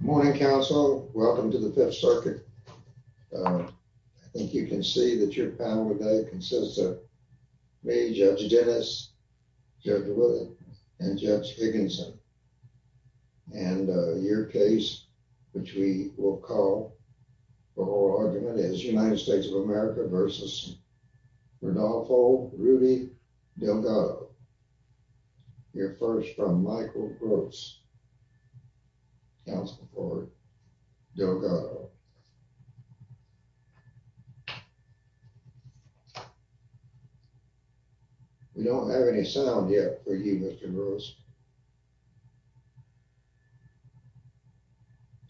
Good morning counsel. Welcome to the fifth circuit. I think you can see that your panel today consists of me, Judge Dennis, Judge Wood, and Judge Higginson. And your case which we will call for oral argument is United States of America v. Rodolfo Rudy Delgado. We'll hear first from Michael Gross, counsel for Delgado. We don't have any sound yet for you, Mr. Gross.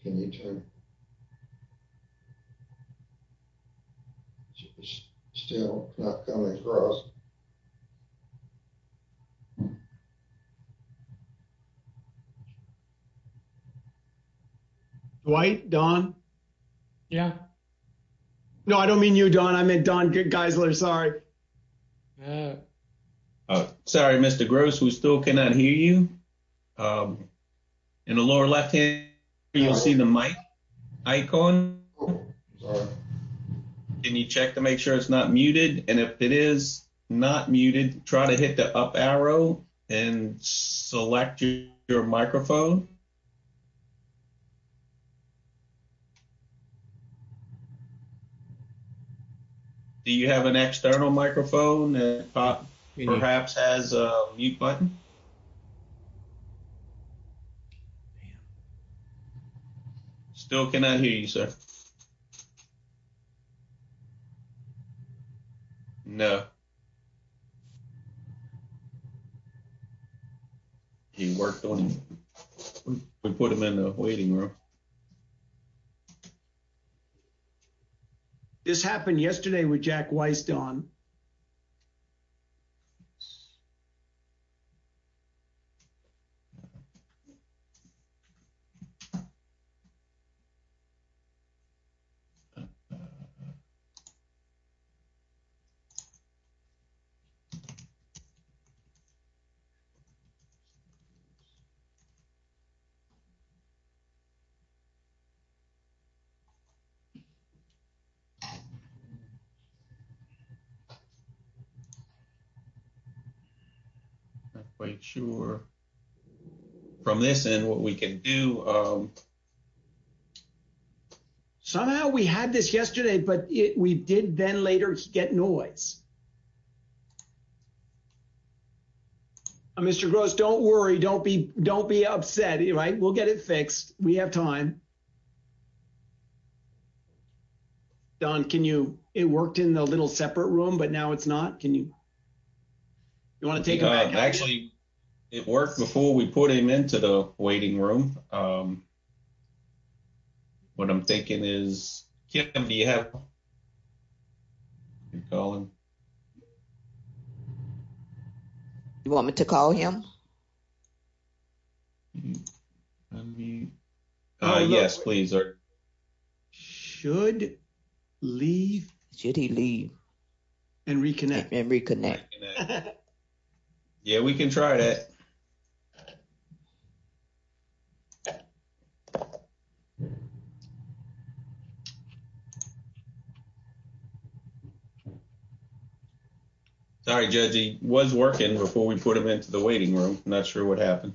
Can you turn? Still not coming across. All right. Dwight? Don? Yeah. No, I don't mean you, Don. I meant Don Geisler. Sorry. Oh, sorry, Mr. Gross. We still cannot hear you. In the lower left hand, you'll see the mic icon. Can you check to make sure it's not muted? And if it is not muted, try to hit the up arrow and select your microphone. Do you have an external microphone that perhaps has a mute button? Still cannot hear you, sir. No. He worked on it. We put him in the waiting room. This happened yesterday with Jack Weiss, Don. Sure. From this end, what we can do. Somehow we had this yesterday, but we did then later get noise. Mr. Gross, don't worry. Don't be upset. We'll get it fixed. We have time. Don, it worked in the little separate room, but now it's not. Can you take it back? Actually, it worked before we put him into the waiting room. What I'm thinking is, Kim, do you have him? You want me to call him? Yes, please. Should he leave? And reconnect. And reconnect. Yeah, we can try that. Sorry, Judge, he was working before we put him into the waiting room. Not sure what happened.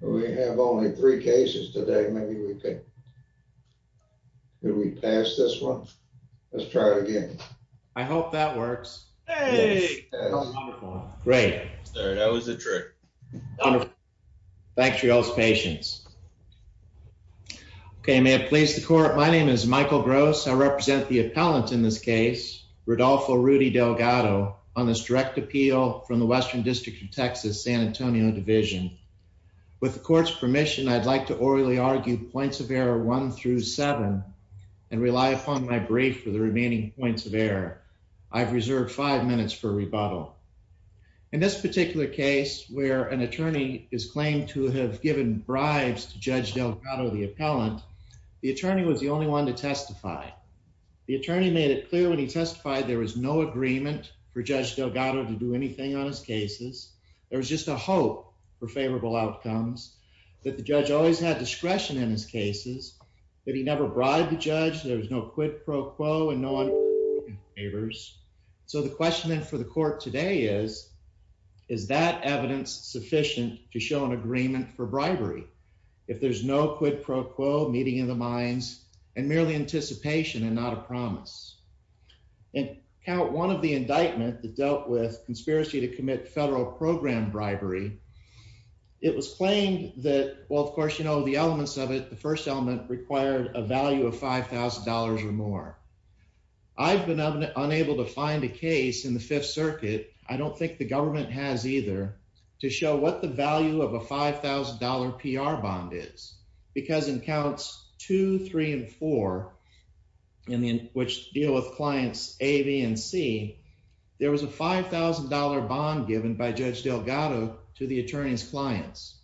We have only three cases today. Maybe we can. Did we pass this one? Let's try it again. I hope that works. Great. That was a trick. Thanks for y'all's patience. Okay, may it please the court. My name is Michael Gross. I represent the appellant in this case, Rodolfo Rudy Delgado, on this direct appeal from the Western District of Texas, San Antonio Division. With the court's permission, I'd like to orally argue points of error one through seven and rely upon my brief for the remaining points of error. I've reserved five minutes for rebuttal. In this particular case, where an attorney is claimed to have given bribes to Judge Delgado, the appellant, the attorney was the only one to testify. The attorney made it clear when he testified there was no agreement for Judge Delgado to do anything on his cases. There was just a hope for favorable outcomes, that the judge always had discretion in his cases, that he never bribed the is, is that evidence sufficient to show an agreement for bribery if there's no quid pro quo meeting in the minds and merely anticipation and not a promise? In count one of the indictment that dealt with conspiracy to commit federal program bribery, it was claimed that, well, of course, you know, the elements of it, the first element required a value of $5,000 or more. I've been unable to find a case in the Fifth Circuit, I don't think the government has either, to show what the value of a $5,000 PR bond is. Because in counts two, three, and four, which deal with clients A, B, and C, there was a $5,000 bond given by Judge Delgado to the attorney's clients.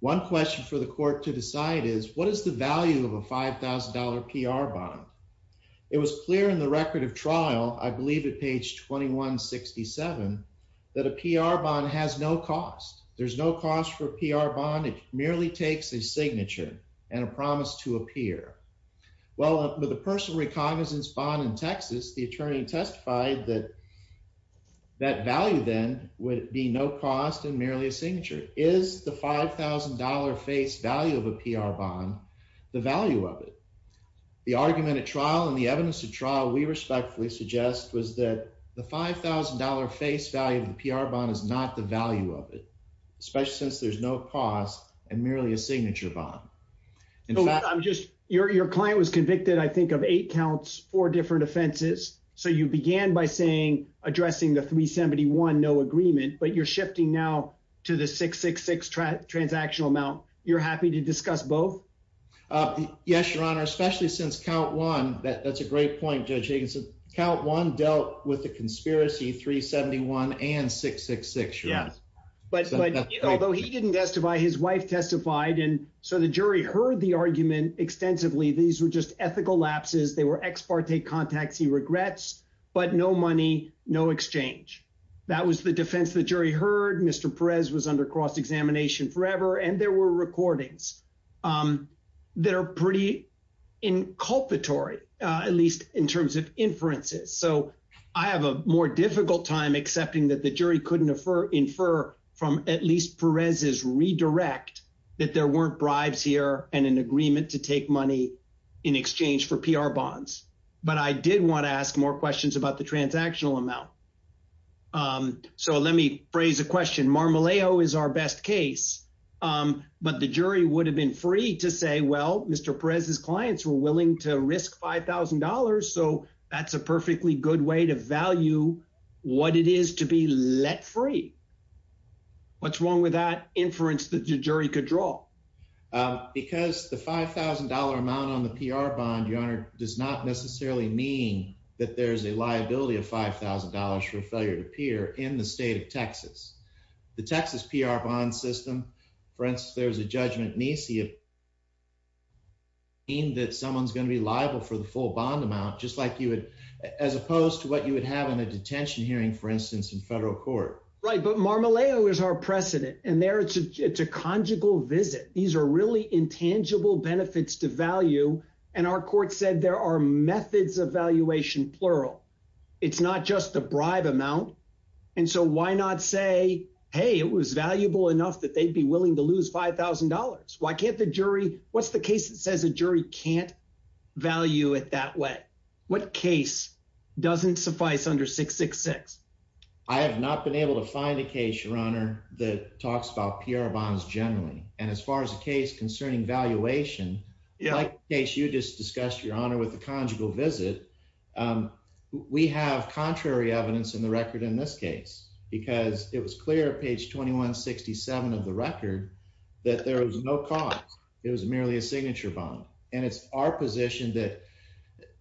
One question for the court to decide is what is the value of a $5,000 PR bond? It was clear in the record of trial, I believe at page 2167, that a PR bond has no cost. There's no cost for PR bond, it merely takes a signature and a promise to appear. Well, with a personal reconnaissance bond in Texas, the attorney testified that that value then would be no cost and merely a signature. Is the $5,000 face value of a PR bond the value of it? The argument and the evidence of trial we respectfully suggest was that the $5,000 face value of the PR bond is not the value of it, especially since there's no cost and merely a signature bond. Your client was convicted, I think, of eight counts, four different offenses. So you began by saying, addressing the 371, no agreement, but you're shifting now to the 666 transactional amount. You're happy to discuss both? Yes, Your Honor, especially since count one, that's a great point, Judge Higgins. Count one dealt with the conspiracy, 371 and 666. Although he didn't testify, his wife testified and so the jury heard the argument extensively. These were just ethical lapses. They were ex parte contacts he regrets, but no money, no exchange. That was the defense the jury heard. Mr. Perez was under cross-examination forever and there were recordings that are pretty inculpatory, at least in terms of inferences. So I have a more difficult time accepting that the jury couldn't infer from at least Perez's redirect that there weren't bribes here and an agreement to take money in exchange for PR bonds. But I did want to ask more questions about the transactional amount. So let me phrase a question. Marmaleo is our best case. But the jury would have been free to say, well, Mr. Perez's clients were willing to risk $5,000. So that's a perfectly good way to value what it is to be let free. What's wrong with that inference that the jury could draw? Because the $5,000 amount on the PR bond, Your Honor, does not necessarily mean that there's a liability of $5,000 for failure to appear in the state of the bond system. For instance, there's a judgment, Nisi, that someone's going to be liable for the full bond amount, just like you would, as opposed to what you would have in a detention hearing, for instance, in federal court. Right. But Marmaleo is our precedent. And there it's a conjugal visit. These are really intangible benefits to value. And our court said there are methods of valuation, plural. It's not just the bribe amount. And so why not say, hey, it was valuable enough that they'd be willing to lose $5,000. Why can't the jury, what's the case that says a jury can't value it that way? What case doesn't suffice under 666? I have not been able to find a case, Your Honor, that talks about PR bonds generally. And as far as the case concerning valuation, like the case you just discussed, Your Honor, with the conjugal visit, we have contrary evidence in the record in this case, because it was clear at page 2167 of the record that there was no cause. It was merely a signature bond. And it's our position that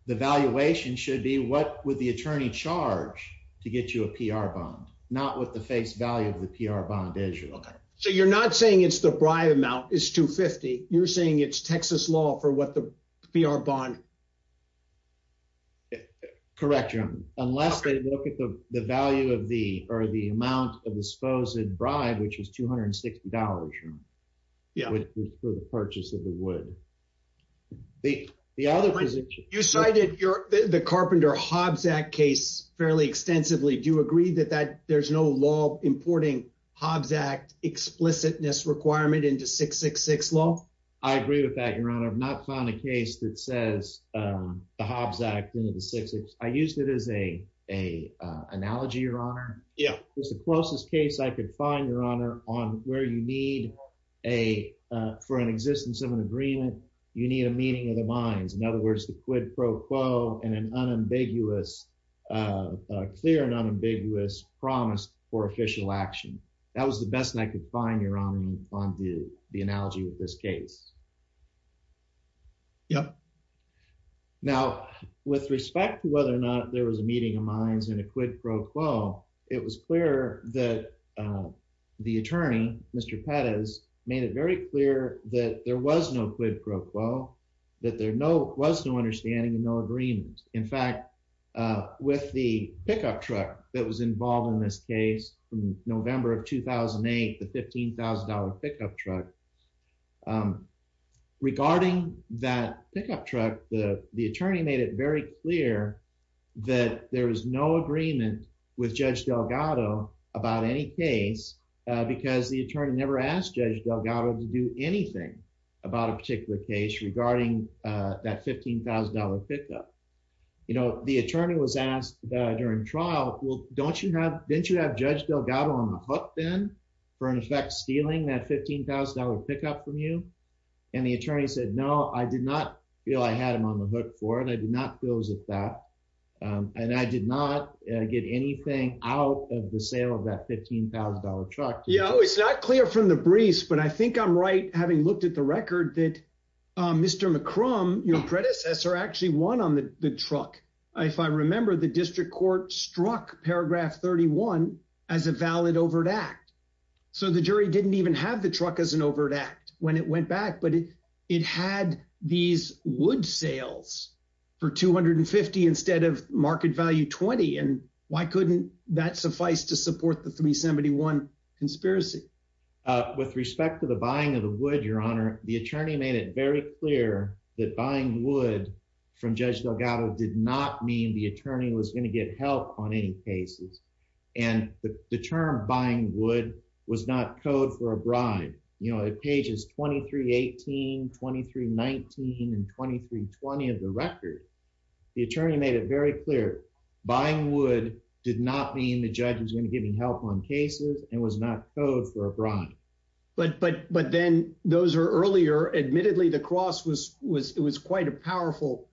the valuation should be what would the attorney charge to get you a PR bond, not what the face value of the PR bond is. Okay. So you're not saying it's the bribe amount, it's 250. You're saying it's Texas law for what the PR bond... Correct, Your Honor. Unless they look at the value of the, or the amount of disposed bribe, which was $260, Your Honor, for the purchase of the wood. The other position... You cited the Carpenter Hobbs Act case fairly extensively. Do you agree that there's no law importing Hobbs Act explicitness requirement into 666 law? I agree with that, Your Honor. I've not found a case that says the Hobbs Act into the 666. I used it as an analogy, Your Honor. Yeah. It's the closest case I could find, Your Honor, on where you need a, for an existence of an agreement, you need a meeting of the minds. In other words, the quid pro quo and an unambiguous, a clear and unambiguous promise for official action. That was the best thing I could find, Your Honor, on the analogy of this case. Yeah. Now, with respect to whether or not there was a meeting of minds and a quid pro quo, it was clear that the attorney, Mr. Pettis, made it very clear that there was no quid pro quo, that there was no understanding and no agreement. In fact, with the pickup truck that was involved in this case from November of 2008, the $15,000 pickup truck, regarding that pickup truck, the attorney made it very clear that there was no agreement with Judge Delgado about any case because the attorney never asked Judge Delgado to do anything about a particular case regarding that $15,000 pickup. You know, the attorney was asked during trial, well, don't you have, didn't you have Judge Delgado on the hook then for in effect stealing that $15,000 pickup from you? And the attorney said, no, I did not feel I had him on the hook for it. I did not feel as if that, and I did not get anything out of the sale of that $15,000 truck. You know, it's not clear from the briefs, but I think I'm right having looked at the record that Mr. McCrum, your predecessor actually won on the truck. If I remember the district court struck paragraph 31 as a valid overt act. So the jury didn't even have the truck as an overt act when it went back, but it had these wood sales for 250 instead of market value 20. And why couldn't that suffice to support the 371 conspiracy? With respect to the buying of the wood, the attorney made it very clear that buying wood from Judge Delgado did not mean the attorney was going to get help on any cases. And the term buying wood was not code for a bribe. You know, at pages 2318, 2319, and 2320 of the record, the attorney made it very clear buying wood did not mean the judge was going to give him help on cases and was not code for a bribe. And I think I said this to the composer earlier, admittedly, the cross was, it was quite a powerful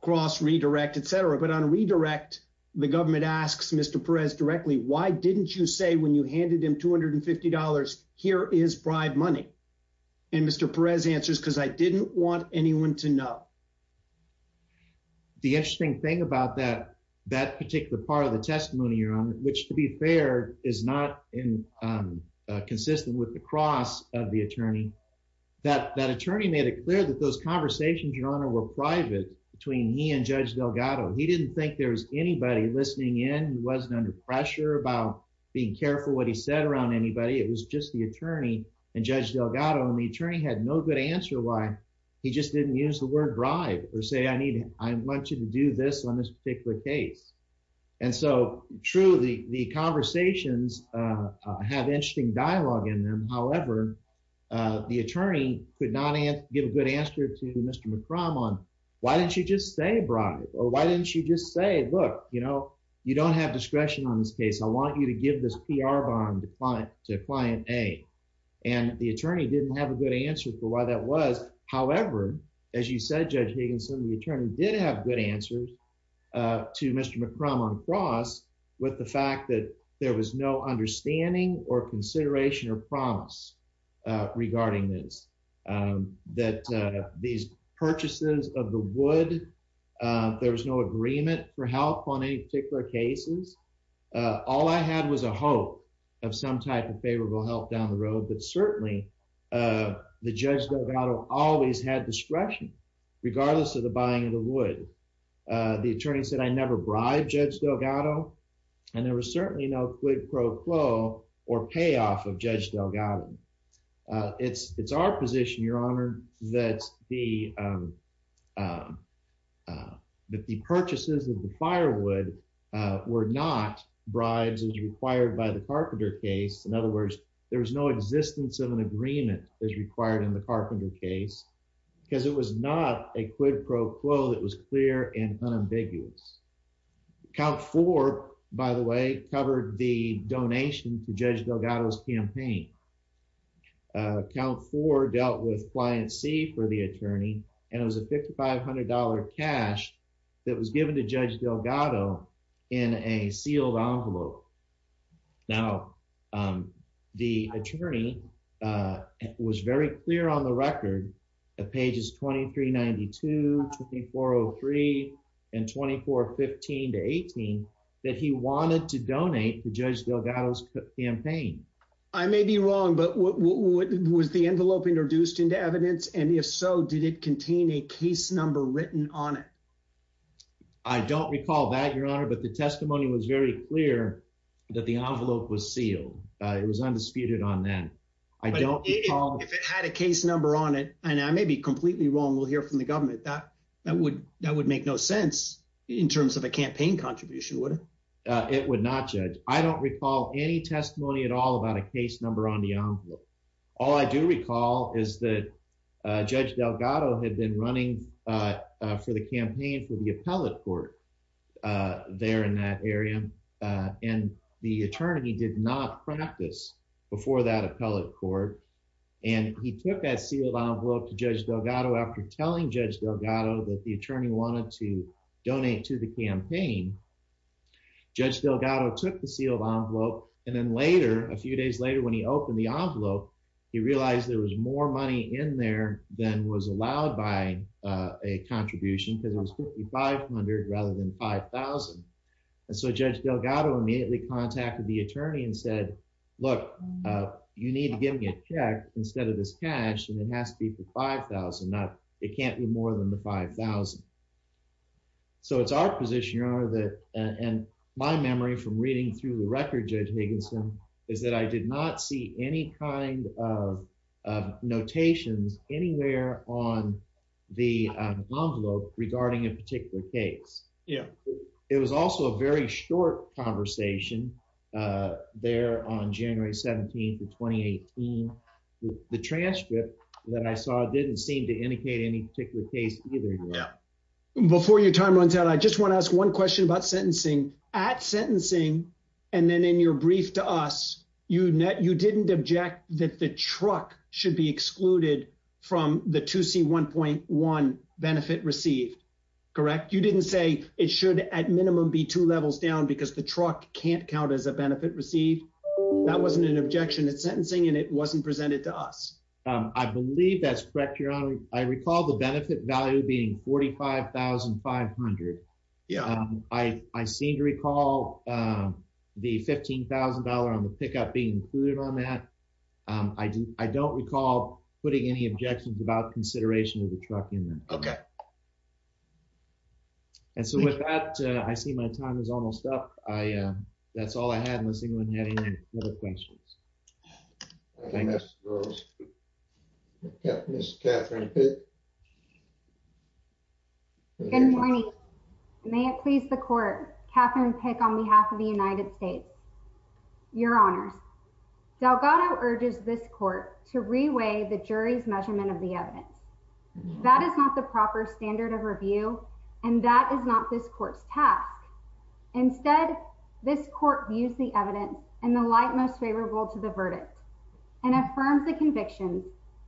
cross redirect, et cetera. But on redirect, the government asks Mr. Perez directly, why didn't you say when you handed him $250, here is bribe money? And Mr. Perez answers, because I didn't want anyone to know. The interesting thing about that, that particular part of the testimony you're on, which to be fair, is not consistent with the cross of the attorney. That attorney made it clear that those conversations you're on were private between he and Judge Delgado. He didn't think there was anybody listening in. He wasn't under pressure about being careful what he said around anybody. It was just the attorney and Judge Delgado. And the attorney had no good answer why he just didn't use the word bribe or say, I need, I want you to do this on this particular case. And so true, the conversations have interesting dialogue in them. However, the attorney could not give a good answer to Mr. McCrum on why didn't you just say bribe? Or why didn't you just say, look, you don't have discretion on this case. I want you to give this PR bond to client A. And the attorney didn't have a good answer for why that was. However, as you said, Judge Higginson, the attorney did have good answers to Mr. McCrum on cross with the fact that there was no understanding or consideration or promise regarding this, that these purchases of the wood, there was no agreement for help on any particular cases. All I had was a hope of some type of favorable help down the road. But certainly the Judge Delgado always had discretion, regardless of the buying of the wood. The attorney said, I never bribed Judge Delgado. And there was certainly no quid pro quo or payoff of Judge Delgado. It's our position, Your Honor, that the purchases of the firewood were not bribes as required by the Carpenter case. In other words, there was no existence of an agreement as required in the Carpenter case, because it was not a quid pro quo that was clear and unambiguous. Count four, by the way, covered the donation to Judge Delgado's campaign. Count four dealt with client C for the attorney, and it was a $5,500 cash that was given to Judge Delgado in a sealed envelope. Now, the attorney was very clear on the record at pages 2392, 2403, and 2415 to 18, that he wanted to donate to Judge Delgado's campaign. I may be wrong, but was the envelope introduced into evidence? And if so, did it contain a case number written on it? I don't recall that, Your Honor, but the testimony was very clear that the envelope was sealed. It was undisputed on then. If it had a case number on it, and I may be completely wrong, we'll hear from the government, that would make no sense in terms of a campaign contribution, would it? It would not, Judge. I don't recall any testimony at all about a case number on the envelope. All I do recall is that Judge Delgado had been running for the campaign for the appellate court there in that area, and the attorney did not practice before that appellate court, and he took that sealed envelope to Judge Delgado after telling Judge Delgado that the attorney wanted to donate to the campaign. Judge Delgado took the sealed envelope, and then later, a few days later, when he opened the envelope, he realized there was more money in there than was allowed by a contribution, because it was $5,500 rather than $5,000. And so Judge Delgado immediately contacted the attorney and said, look, you need to give me a check instead of this cash, and it has to be for $5,000. It can't be more than the $5,000. So it's our position, and my memory from reading through the record, Judge Higginson, is that I did not see any kind of notations anywhere on the envelope regarding a particular case. It was also a very short conversation there on January 17th of 2018. The transcript that I saw didn't seem to indicate any particular case either. Before your time runs out, I just want to ask one question about sentencing. At sentencing, and then in your brief to us, you didn't object that the truck should be excluded from the 2C1.1 benefit received, correct? You didn't say it should at minimum be two levels down because the truck can't count as a benefit received. That wasn't an objection at sentencing, and it wasn't presented to us. I believe that's correct, Your Honor. I recall the benefit value being $45,500. I seem to recall the $15,000 on the pickup being included on that. I don't recall putting any objections about consideration of the truck in there. And so with that, I see my time is almost up. That's all I had, unless anyone had any other questions. Ms. Rose. Ms. Catherine Pick. Good morning. May it please the Court, Catherine Pick on behalf of the United States. Your Honors, Delgado urges this Court to reweigh the jury's measurement of the evidence. That is not the proper standard of review, and that is not this Court's task. Instead, this Court views the evidence in the light most favorable to the verdict and affirms the conviction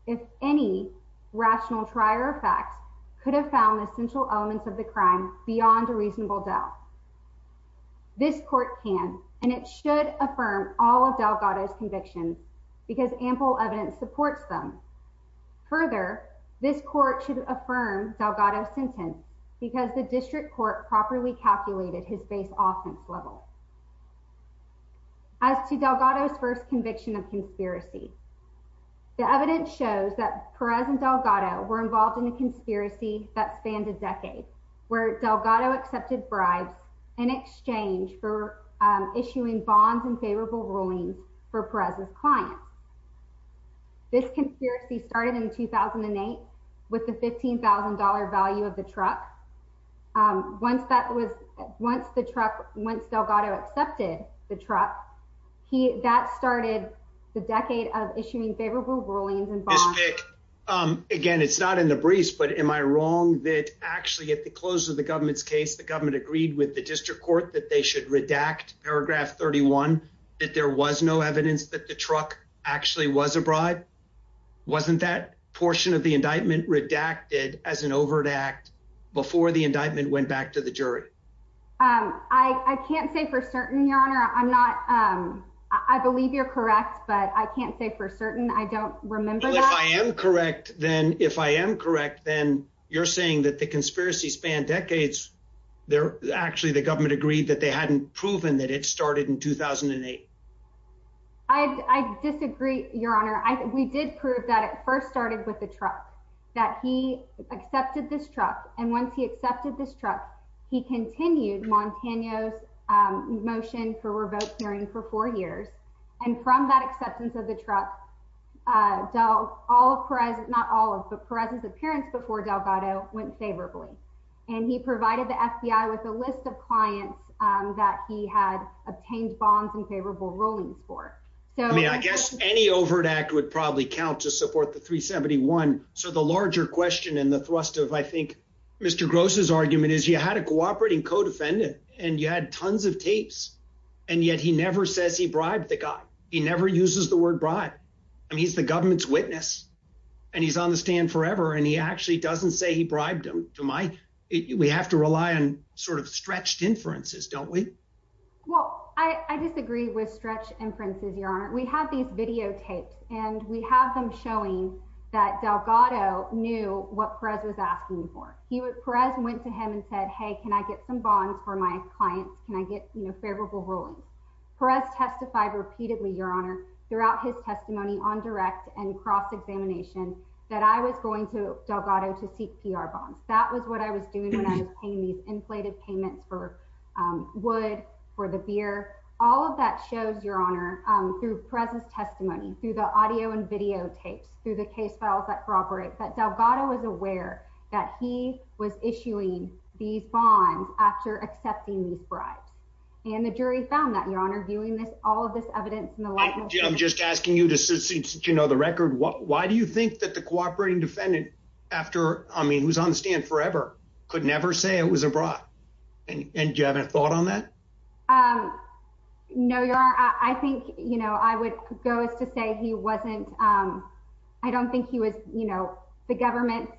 if any rational trier of facts could have found the central elements of the crime beyond a reasonable doubt. This Court can and it should affirm all of Delgado's convictions because ample evidence supports them. Further, this Court should affirm Delgado's sentence because the District Court properly calculated his base offense level. As to Delgado's first conviction of conspiracy, the evidence shows that Perez and Delgado were involved in a conspiracy that spanned a decade, where Delgado accepted bribes in exchange for issuing bonds and favorable rulings for Perez's clients. This conspiracy started in 2008 with the $15,000 value of the truck. Once Delgado accepted the truck, that started the decade of issuing favorable rulings and bonds. Ms. Pick, again, it's not in the briefs, but am I wrong that actually at the close of the government's case, the government agreed with the District Court that they should redact paragraph 31, that there was no evidence that the truck actually was a bribe? Wasn't that portion of the indictment redacted as an overt act before the indictment went back to the jury? I can't say for certain, Your Honor. I believe you're correct, but I can't say for certain. I don't remember that. If I am correct, then you're saying that the conspiracy spanned decades. Actually, the government agreed that they hadn't proven that it started in 2008. I disagree, Your Honor. We did prove that it first started with the truck, that he accepted this truck. Once he accepted this truck, he continued Montano's motion for revoked hearing for four years. From that acceptance of the truck, Perez's appearance before Delgado went favorably. He provided the FBI with a list of clients that he had obtained bonds and favorable rulings for. I mean, I guess any overt act would probably count to support the 371. So the larger question and the thrust of, I think, Mr. Gross's argument is you had a cooperating co-defendant and you had tons of tapes, and yet he never says he bribed the guy. He never uses the word bribe. I mean, he's the government's witness and he's on the stand forever, and he actually doesn't say he bribed him. We have to rely on sort of stretched inferences, don't we? Well, I disagree with stretched inferences, Your Honor. We have these videotapes and we have them showing that Delgado knew what Perez was asking for. Perez went to him and said, hey, can I get some bonds for my clients? Can I get favorable rulings? Perez testified repeatedly, Your Honor, throughout his testimony on direct and cross-examination that I was going to Delgado to seek PR bonds. That was what I was doing when I was paying these inflated payments for wood, for the beer. All of that shows, Your Honor, through Perez's testimony, through the audio and videotapes, through the case files that corroborate that Delgado was aware that he was issuing these bonds after accepting these bribes. And the jury found that, Your Honor, viewing all of this evidence in the light of- I'm just asking you to know the record. Why do you think that the cooperating defendant, who's on the stand forever, could never say it was a bribe? And do you have a thought on that? No, Your Honor. I think I would go as to say he wasn't- I don't think he was- the government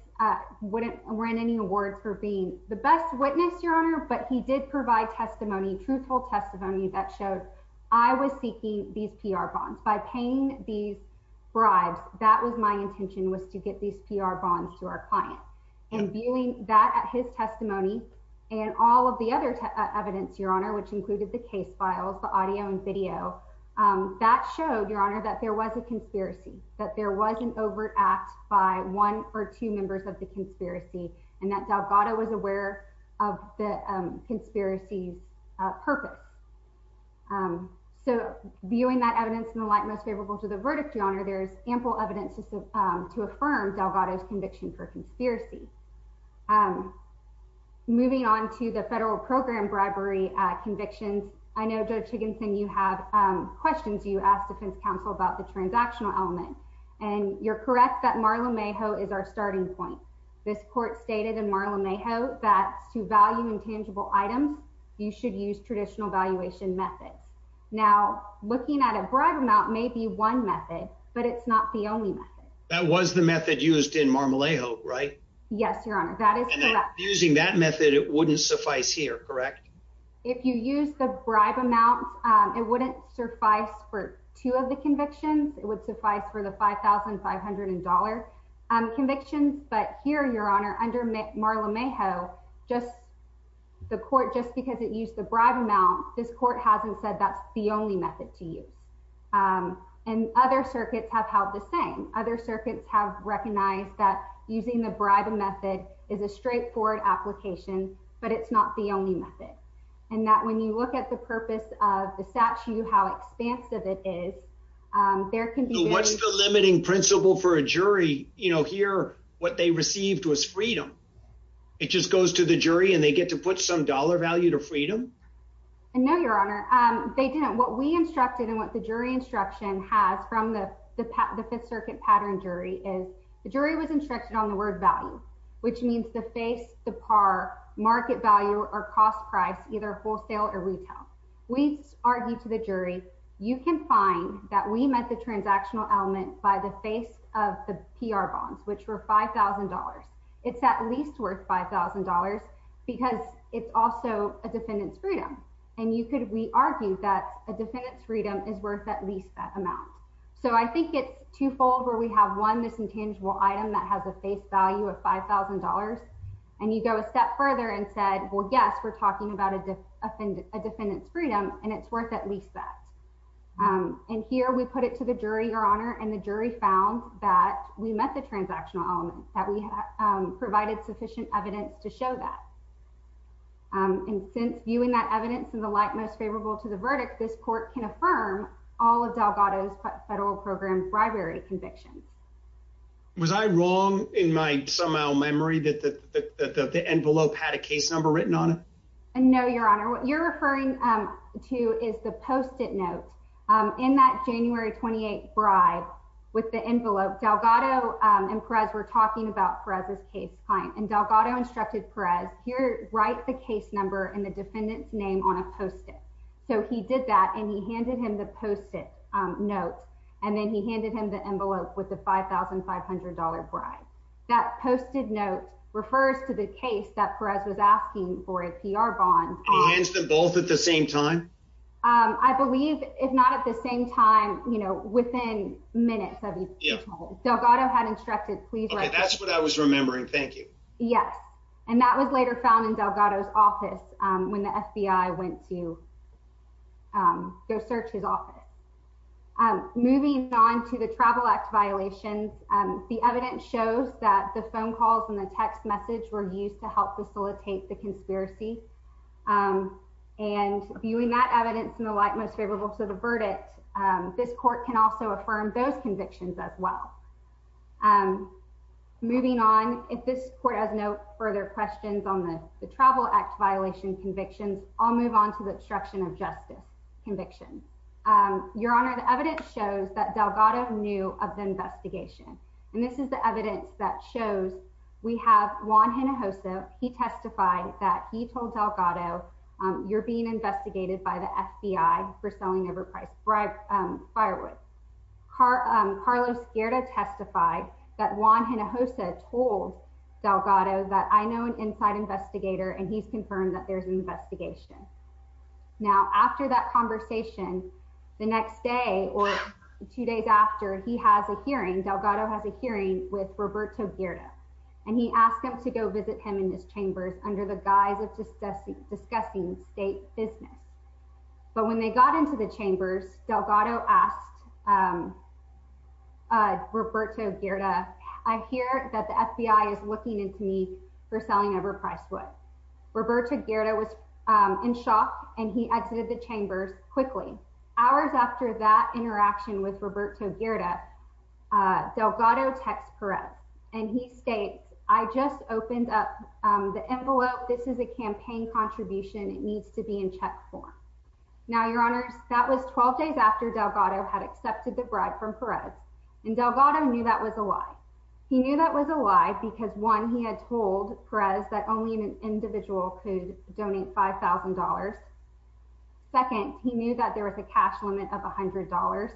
wouldn't win any awards for being the best witness, Your Honor, but he did provide testimony, truthful testimony that showed I was seeking these PR bonds. By paying these bribes, that was my intention, was to get these PR bonds to our client. And viewing that at his testimony and all of the other evidence, Your Honor, which included the case files, the audio and video, that showed, Your Honor, that there was a conspiracy, that there was an overt act by one or two members of the conspiracy, and that Delgado was aware of the conspiracy's purpose. So viewing that evidence in the light most favorable to the verdict, Your Honor, there's ample evidence to affirm Delgado's conviction for conspiracy. Moving on to the federal program bribery convictions, I know, Judge Higginson, you have questions you asked defense counsel about the transactional element, and you're correct that Marla Mayhoe is our starting point. This court stated in Marla Mayhoe that to value intangible items, you should use traditional valuation methods. Now, looking at a bribe amount may be one method, but it's not the only method. That was the method used in Marla Mayhoe, right? Yes, Your Honor, that is correct. Using that method, it wouldn't suffice here, correct? If you use the bribe amount, it wouldn't suffice for two of the convictions, but here, Your Honor, under Marla Mayhoe, just the court, just because it used the bribe amount, this court hasn't said that's the only method to use, and other circuits have held the same. Other circuits have recognized that using the bribe method is a straightforward application, but it's not the only method, and that when you look at the purpose of the statute, how expansive it is, there can be... What's the limiting principle for a jury? You know, here, what they received was freedom. It just goes to the jury, and they get to put some dollar value to freedom? No, Your Honor, they didn't. What we instructed and what the jury instruction has from the Fifth Circuit pattern jury is the jury was instructed on the word value, which means the face, the par, market value, or cost price, either wholesale or retail. We argue to the jury, you can find that we met the transactional element by the face of the PR bonds, which were $5,000. It's at least worth $5,000 because it's also a defendant's freedom, and you could... We argue that a defendant's freedom is worth at least that amount, so I think it's twofold where we have one misintangible item that has a value of $5,000, and you go a step further and said, well, yes, we're talking about a defendant's freedom, and it's worth at least that, and here we put it to the jury, Your Honor, and the jury found that we met the transactional element, that we provided sufficient evidence to show that, and since viewing that evidence in the light most favorable to the verdict, this court can somehow memory that the envelope had a case number written on it? No, Your Honor, what you're referring to is the post-it note. In that January 28th bribe with the envelope, Delgado and Perez were talking about Perez's case client, and Delgado instructed Perez, here, write the case number and the defendant's name on a post-it, so he did that, and he handed him the post-it note, and then he posted note refers to the case that Perez was asking for a PR bond. He hands them both at the same time? I believe, if not at the same time, you know, within minutes. Delgado had instructed, that's what I was remembering, thank you. Yes, and that was later found in Delgado's office when the FBI went to go search his office. Moving on to the travel act violations, the evidence shows that the phone calls and the text message were used to help facilitate the conspiracy, and viewing that evidence in the light most favorable to the verdict, this court can also affirm those convictions as well. Moving on, if this court has no further questions on the travel act violation convictions, I'll move on to the obstruction of justice convictions. Your honor, the evidence shows that Delgado knew of the investigation, and this is the evidence that shows we have Juan Hinojosa, he testified that he told Delgado, you're being investigated by the FBI for selling overpriced firewood. Carlos Guerra testified that Juan Hinojosa told Delgado that I know an inside investigator, and he's confirmed that there's an investigation. Now after that conversation, the next day, or two days after, he has a hearing, Delgado has a hearing with Roberto Guerra, and he asked him to go visit him in his chambers under the guise of discussing state business. But when they got into the chambers, Delgado asked Roberto Guerra, I hear that the FBI is looking into me for selling overpriced wood. Roberto Guerra was in shock, and he exited the chambers quickly. Hours after that interaction with Roberto Guerra, Delgado text Perez, and he states, I just opened up the envelope. This is a campaign contribution, it needs to be in check form. Now, your honors, that was 12 days after Delgado had accepted the bribe from Perez, and Delgado knew that was a lie. He knew that was a that only an individual could donate $5,000. Second, he knew that there was a cash limit of $100.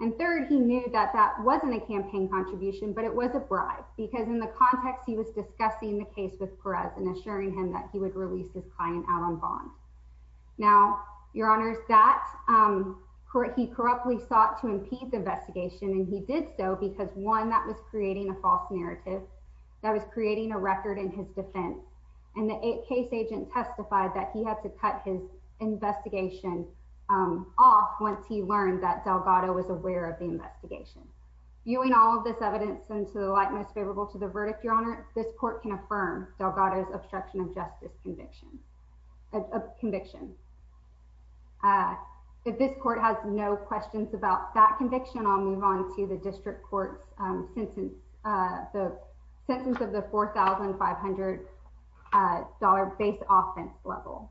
And third, he knew that that wasn't a campaign contribution, but it was a bribe, because in the context, he was discussing the case with Perez and assuring him that he would release his client out on bond. Now, your honors, that he corruptly sought to impede the investigation, and he did so because one, that was creating a false narrative, that was creating a record in his defense, and the case agent testified that he had to cut his investigation off once he learned that Delgado was aware of the investigation. Viewing all of this evidence into the likeness favorable to the verdict, your honor, this court can affirm Delgado's obstruction of justice conviction. If this court has no questions about that $500 base offense level.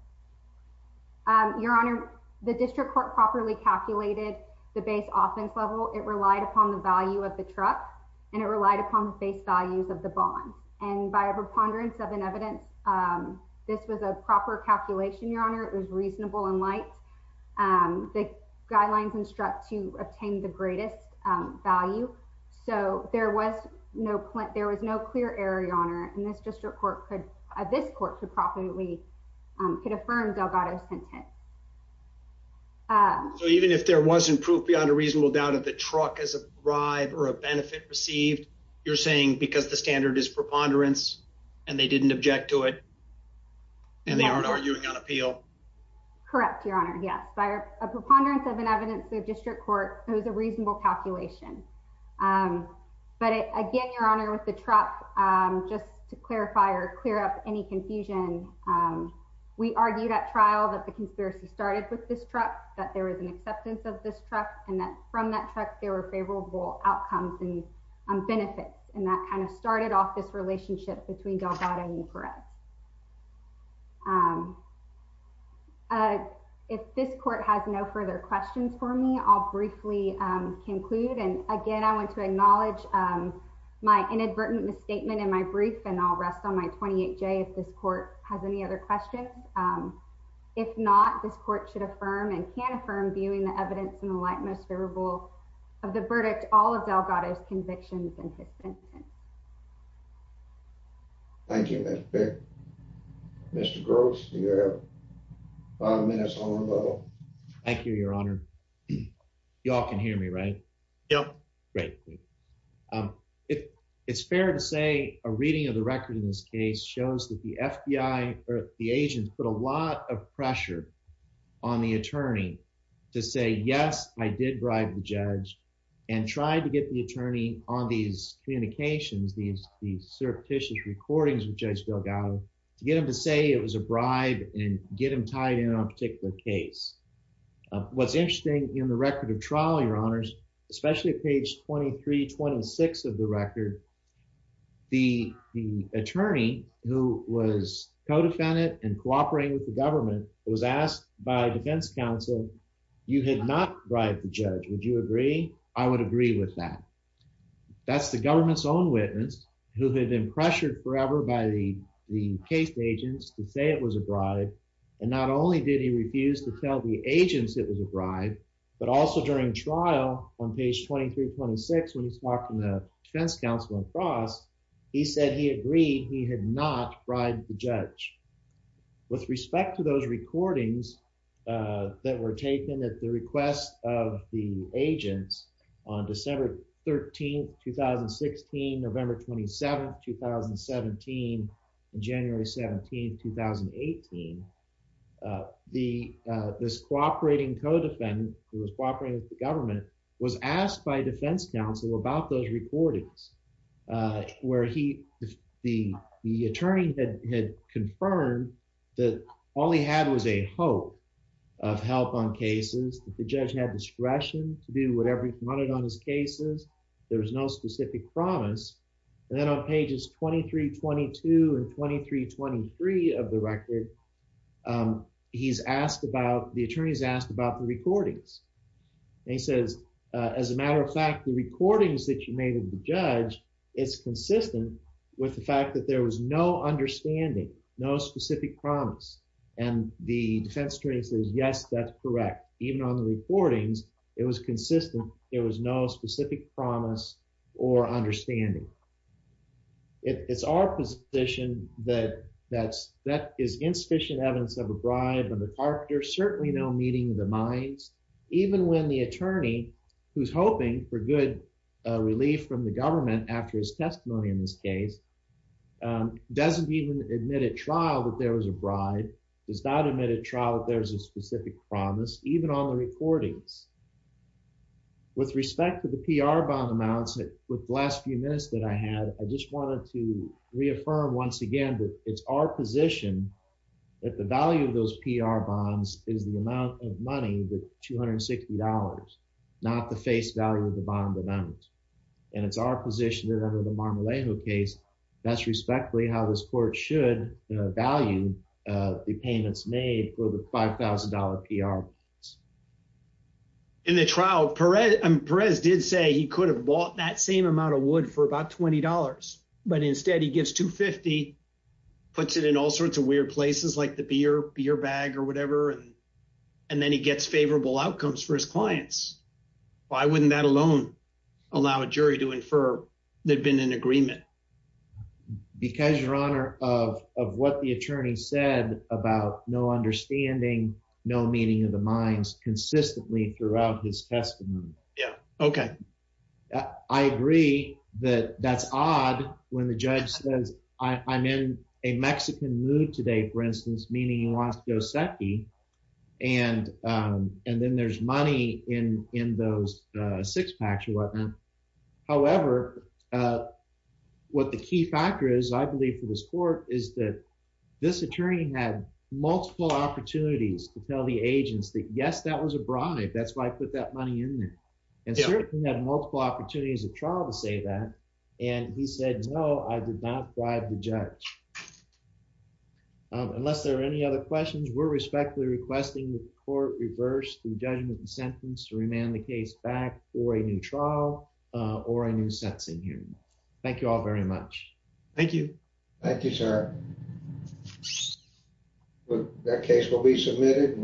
Your honor, the district court properly calculated the base offense level. It relied upon the value of the truck, and it relied upon the base values of the bond. And by a preponderance of an evidence, this was a proper calculation, your honor. It was reasonable and light. The guidelines instruct to obtain the greatest value. So there was no, there was no clear error, your honor, and this district court could, this court could probably, could affirm Delgado's sentence. So even if there wasn't proof beyond a reasonable doubt of the truck as a bribe or a benefit received, you're saying because the standard is preponderance and they didn't object to it, and they aren't arguing on appeal? Correct, your honor. Yes, by a preponderance of an evidence, the district court, it was a reasonable calculation. But again, your honor, with the truck, just to clarify or clear up any confusion, we argued at trial that the conspiracy started with this truck, that there was an acceptance of this truck and that from that truck, there were favorable outcomes and benefits. And that kind of started off this relationship between Delgado and Perez. If this court has no further questions for me, I'll briefly conclude. And again, I want to acknowledge my inadvertent misstatement in my brief and I'll rest on my 28J if this court has any other questions. If not, this court should affirm and can affirm viewing the evidence in the light most favorable of the verdict, all of Delgado's convictions and his sentence. Thank you, Mr. Pick. Mr. Gross, you have five minutes on the level. Thank you, your honor. You all can hear me, right? Yep. Great. It's fair to say a reading of the record in this case shows that the FBI or the agents put a lot of pressure on the attorney to say, yes, I did bribe the judge and tried to get the attorney on these communications, these surreptitious recordings with Judge Delgado to get him to say it was a bribe and get him tied in on a particular case. What's interesting in the record of trial, your honors, especially at page 2326 of the record, the attorney who was co-defendant and cooperating with the government was asked by defense counsel, you had not bribed the judge. Would you agree? I would agree with that. That's the government's own witness who had been pressured forever by the case agents to say it was a bribe. And not only did he refuse to tell the agents it was a bribe, but also during trial on page 2326, when he's talking to defense counsel across, he said he agreed he had not bribed the judge. With respect to those recordings that were taken at the request of the agents on December 13th, 2016, November 27th, 2017, and January 17th, 2018, this cooperating co-defendant who was cooperating with the government was asked by defense counsel about those recordings where he, the attorney had confirmed that all he had was a hope of help on cases, that the judge had discretion to do whatever he wanted on his cases. There was no specific promise. And then on pages 2322 and 2323 of the record, he's asked about, the attorney's asked about recordings. And he says, as a matter of fact, the recordings that you made of the judge, it's consistent with the fact that there was no understanding, no specific promise. And the defense attorney says, yes, that's correct. Even on the recordings, it was consistent. There was no specific promise or understanding. It's our position that that's, that is insufficient evidence of a bribe on the character. Certainly no meeting of the minds, even when the attorney, who's hoping for good relief from the government after his testimony in this case, doesn't even admit at trial that there was a bribe, does not admit at trial that there's a specific promise, even on the recordings. With respect to the PR bond amounts that with the last few minutes that I had, I just wanted to reaffirm once again, that it's our position that the value of those PR bonds is the amount of money, the $260, not the face value of the bond amount. And it's our position that under the Marmolejo case, that's respectfully how this court should value the payments made for the $5,000 PR. In the trial, Perez did say he could have bought that same amount of wood for about $20, but instead he gives $250, puts it in all your places like the beer, beer bag or whatever. And then he gets favorable outcomes for his clients. Why wouldn't that alone allow a jury to infer they've been in agreement? Because your honor of, of what the attorney said about no understanding, no meeting of the minds consistently throughout his testimony. Yeah. Okay. I agree that that's odd when the judge says, I I'm in a Mexican mood today, for instance, meaning he wants to go secky. And and then there's money in, in those six packs or whatnot. However what the key factor is, I believe for this court is that this attorney had multiple opportunities to tell the agents that yes, that was a bribe. That's why I put that money in there. And certainly had multiple opportunities of trial to say that. And he said, no, I did not bribe the judge. Unless there are any other questions, we're respectfully requesting the court reverse the judgment and sentence to remand the case back for a new trial or a new sentencing hearing. Thank you all very much. Thank you. Thank you, sir. That case will be submitted.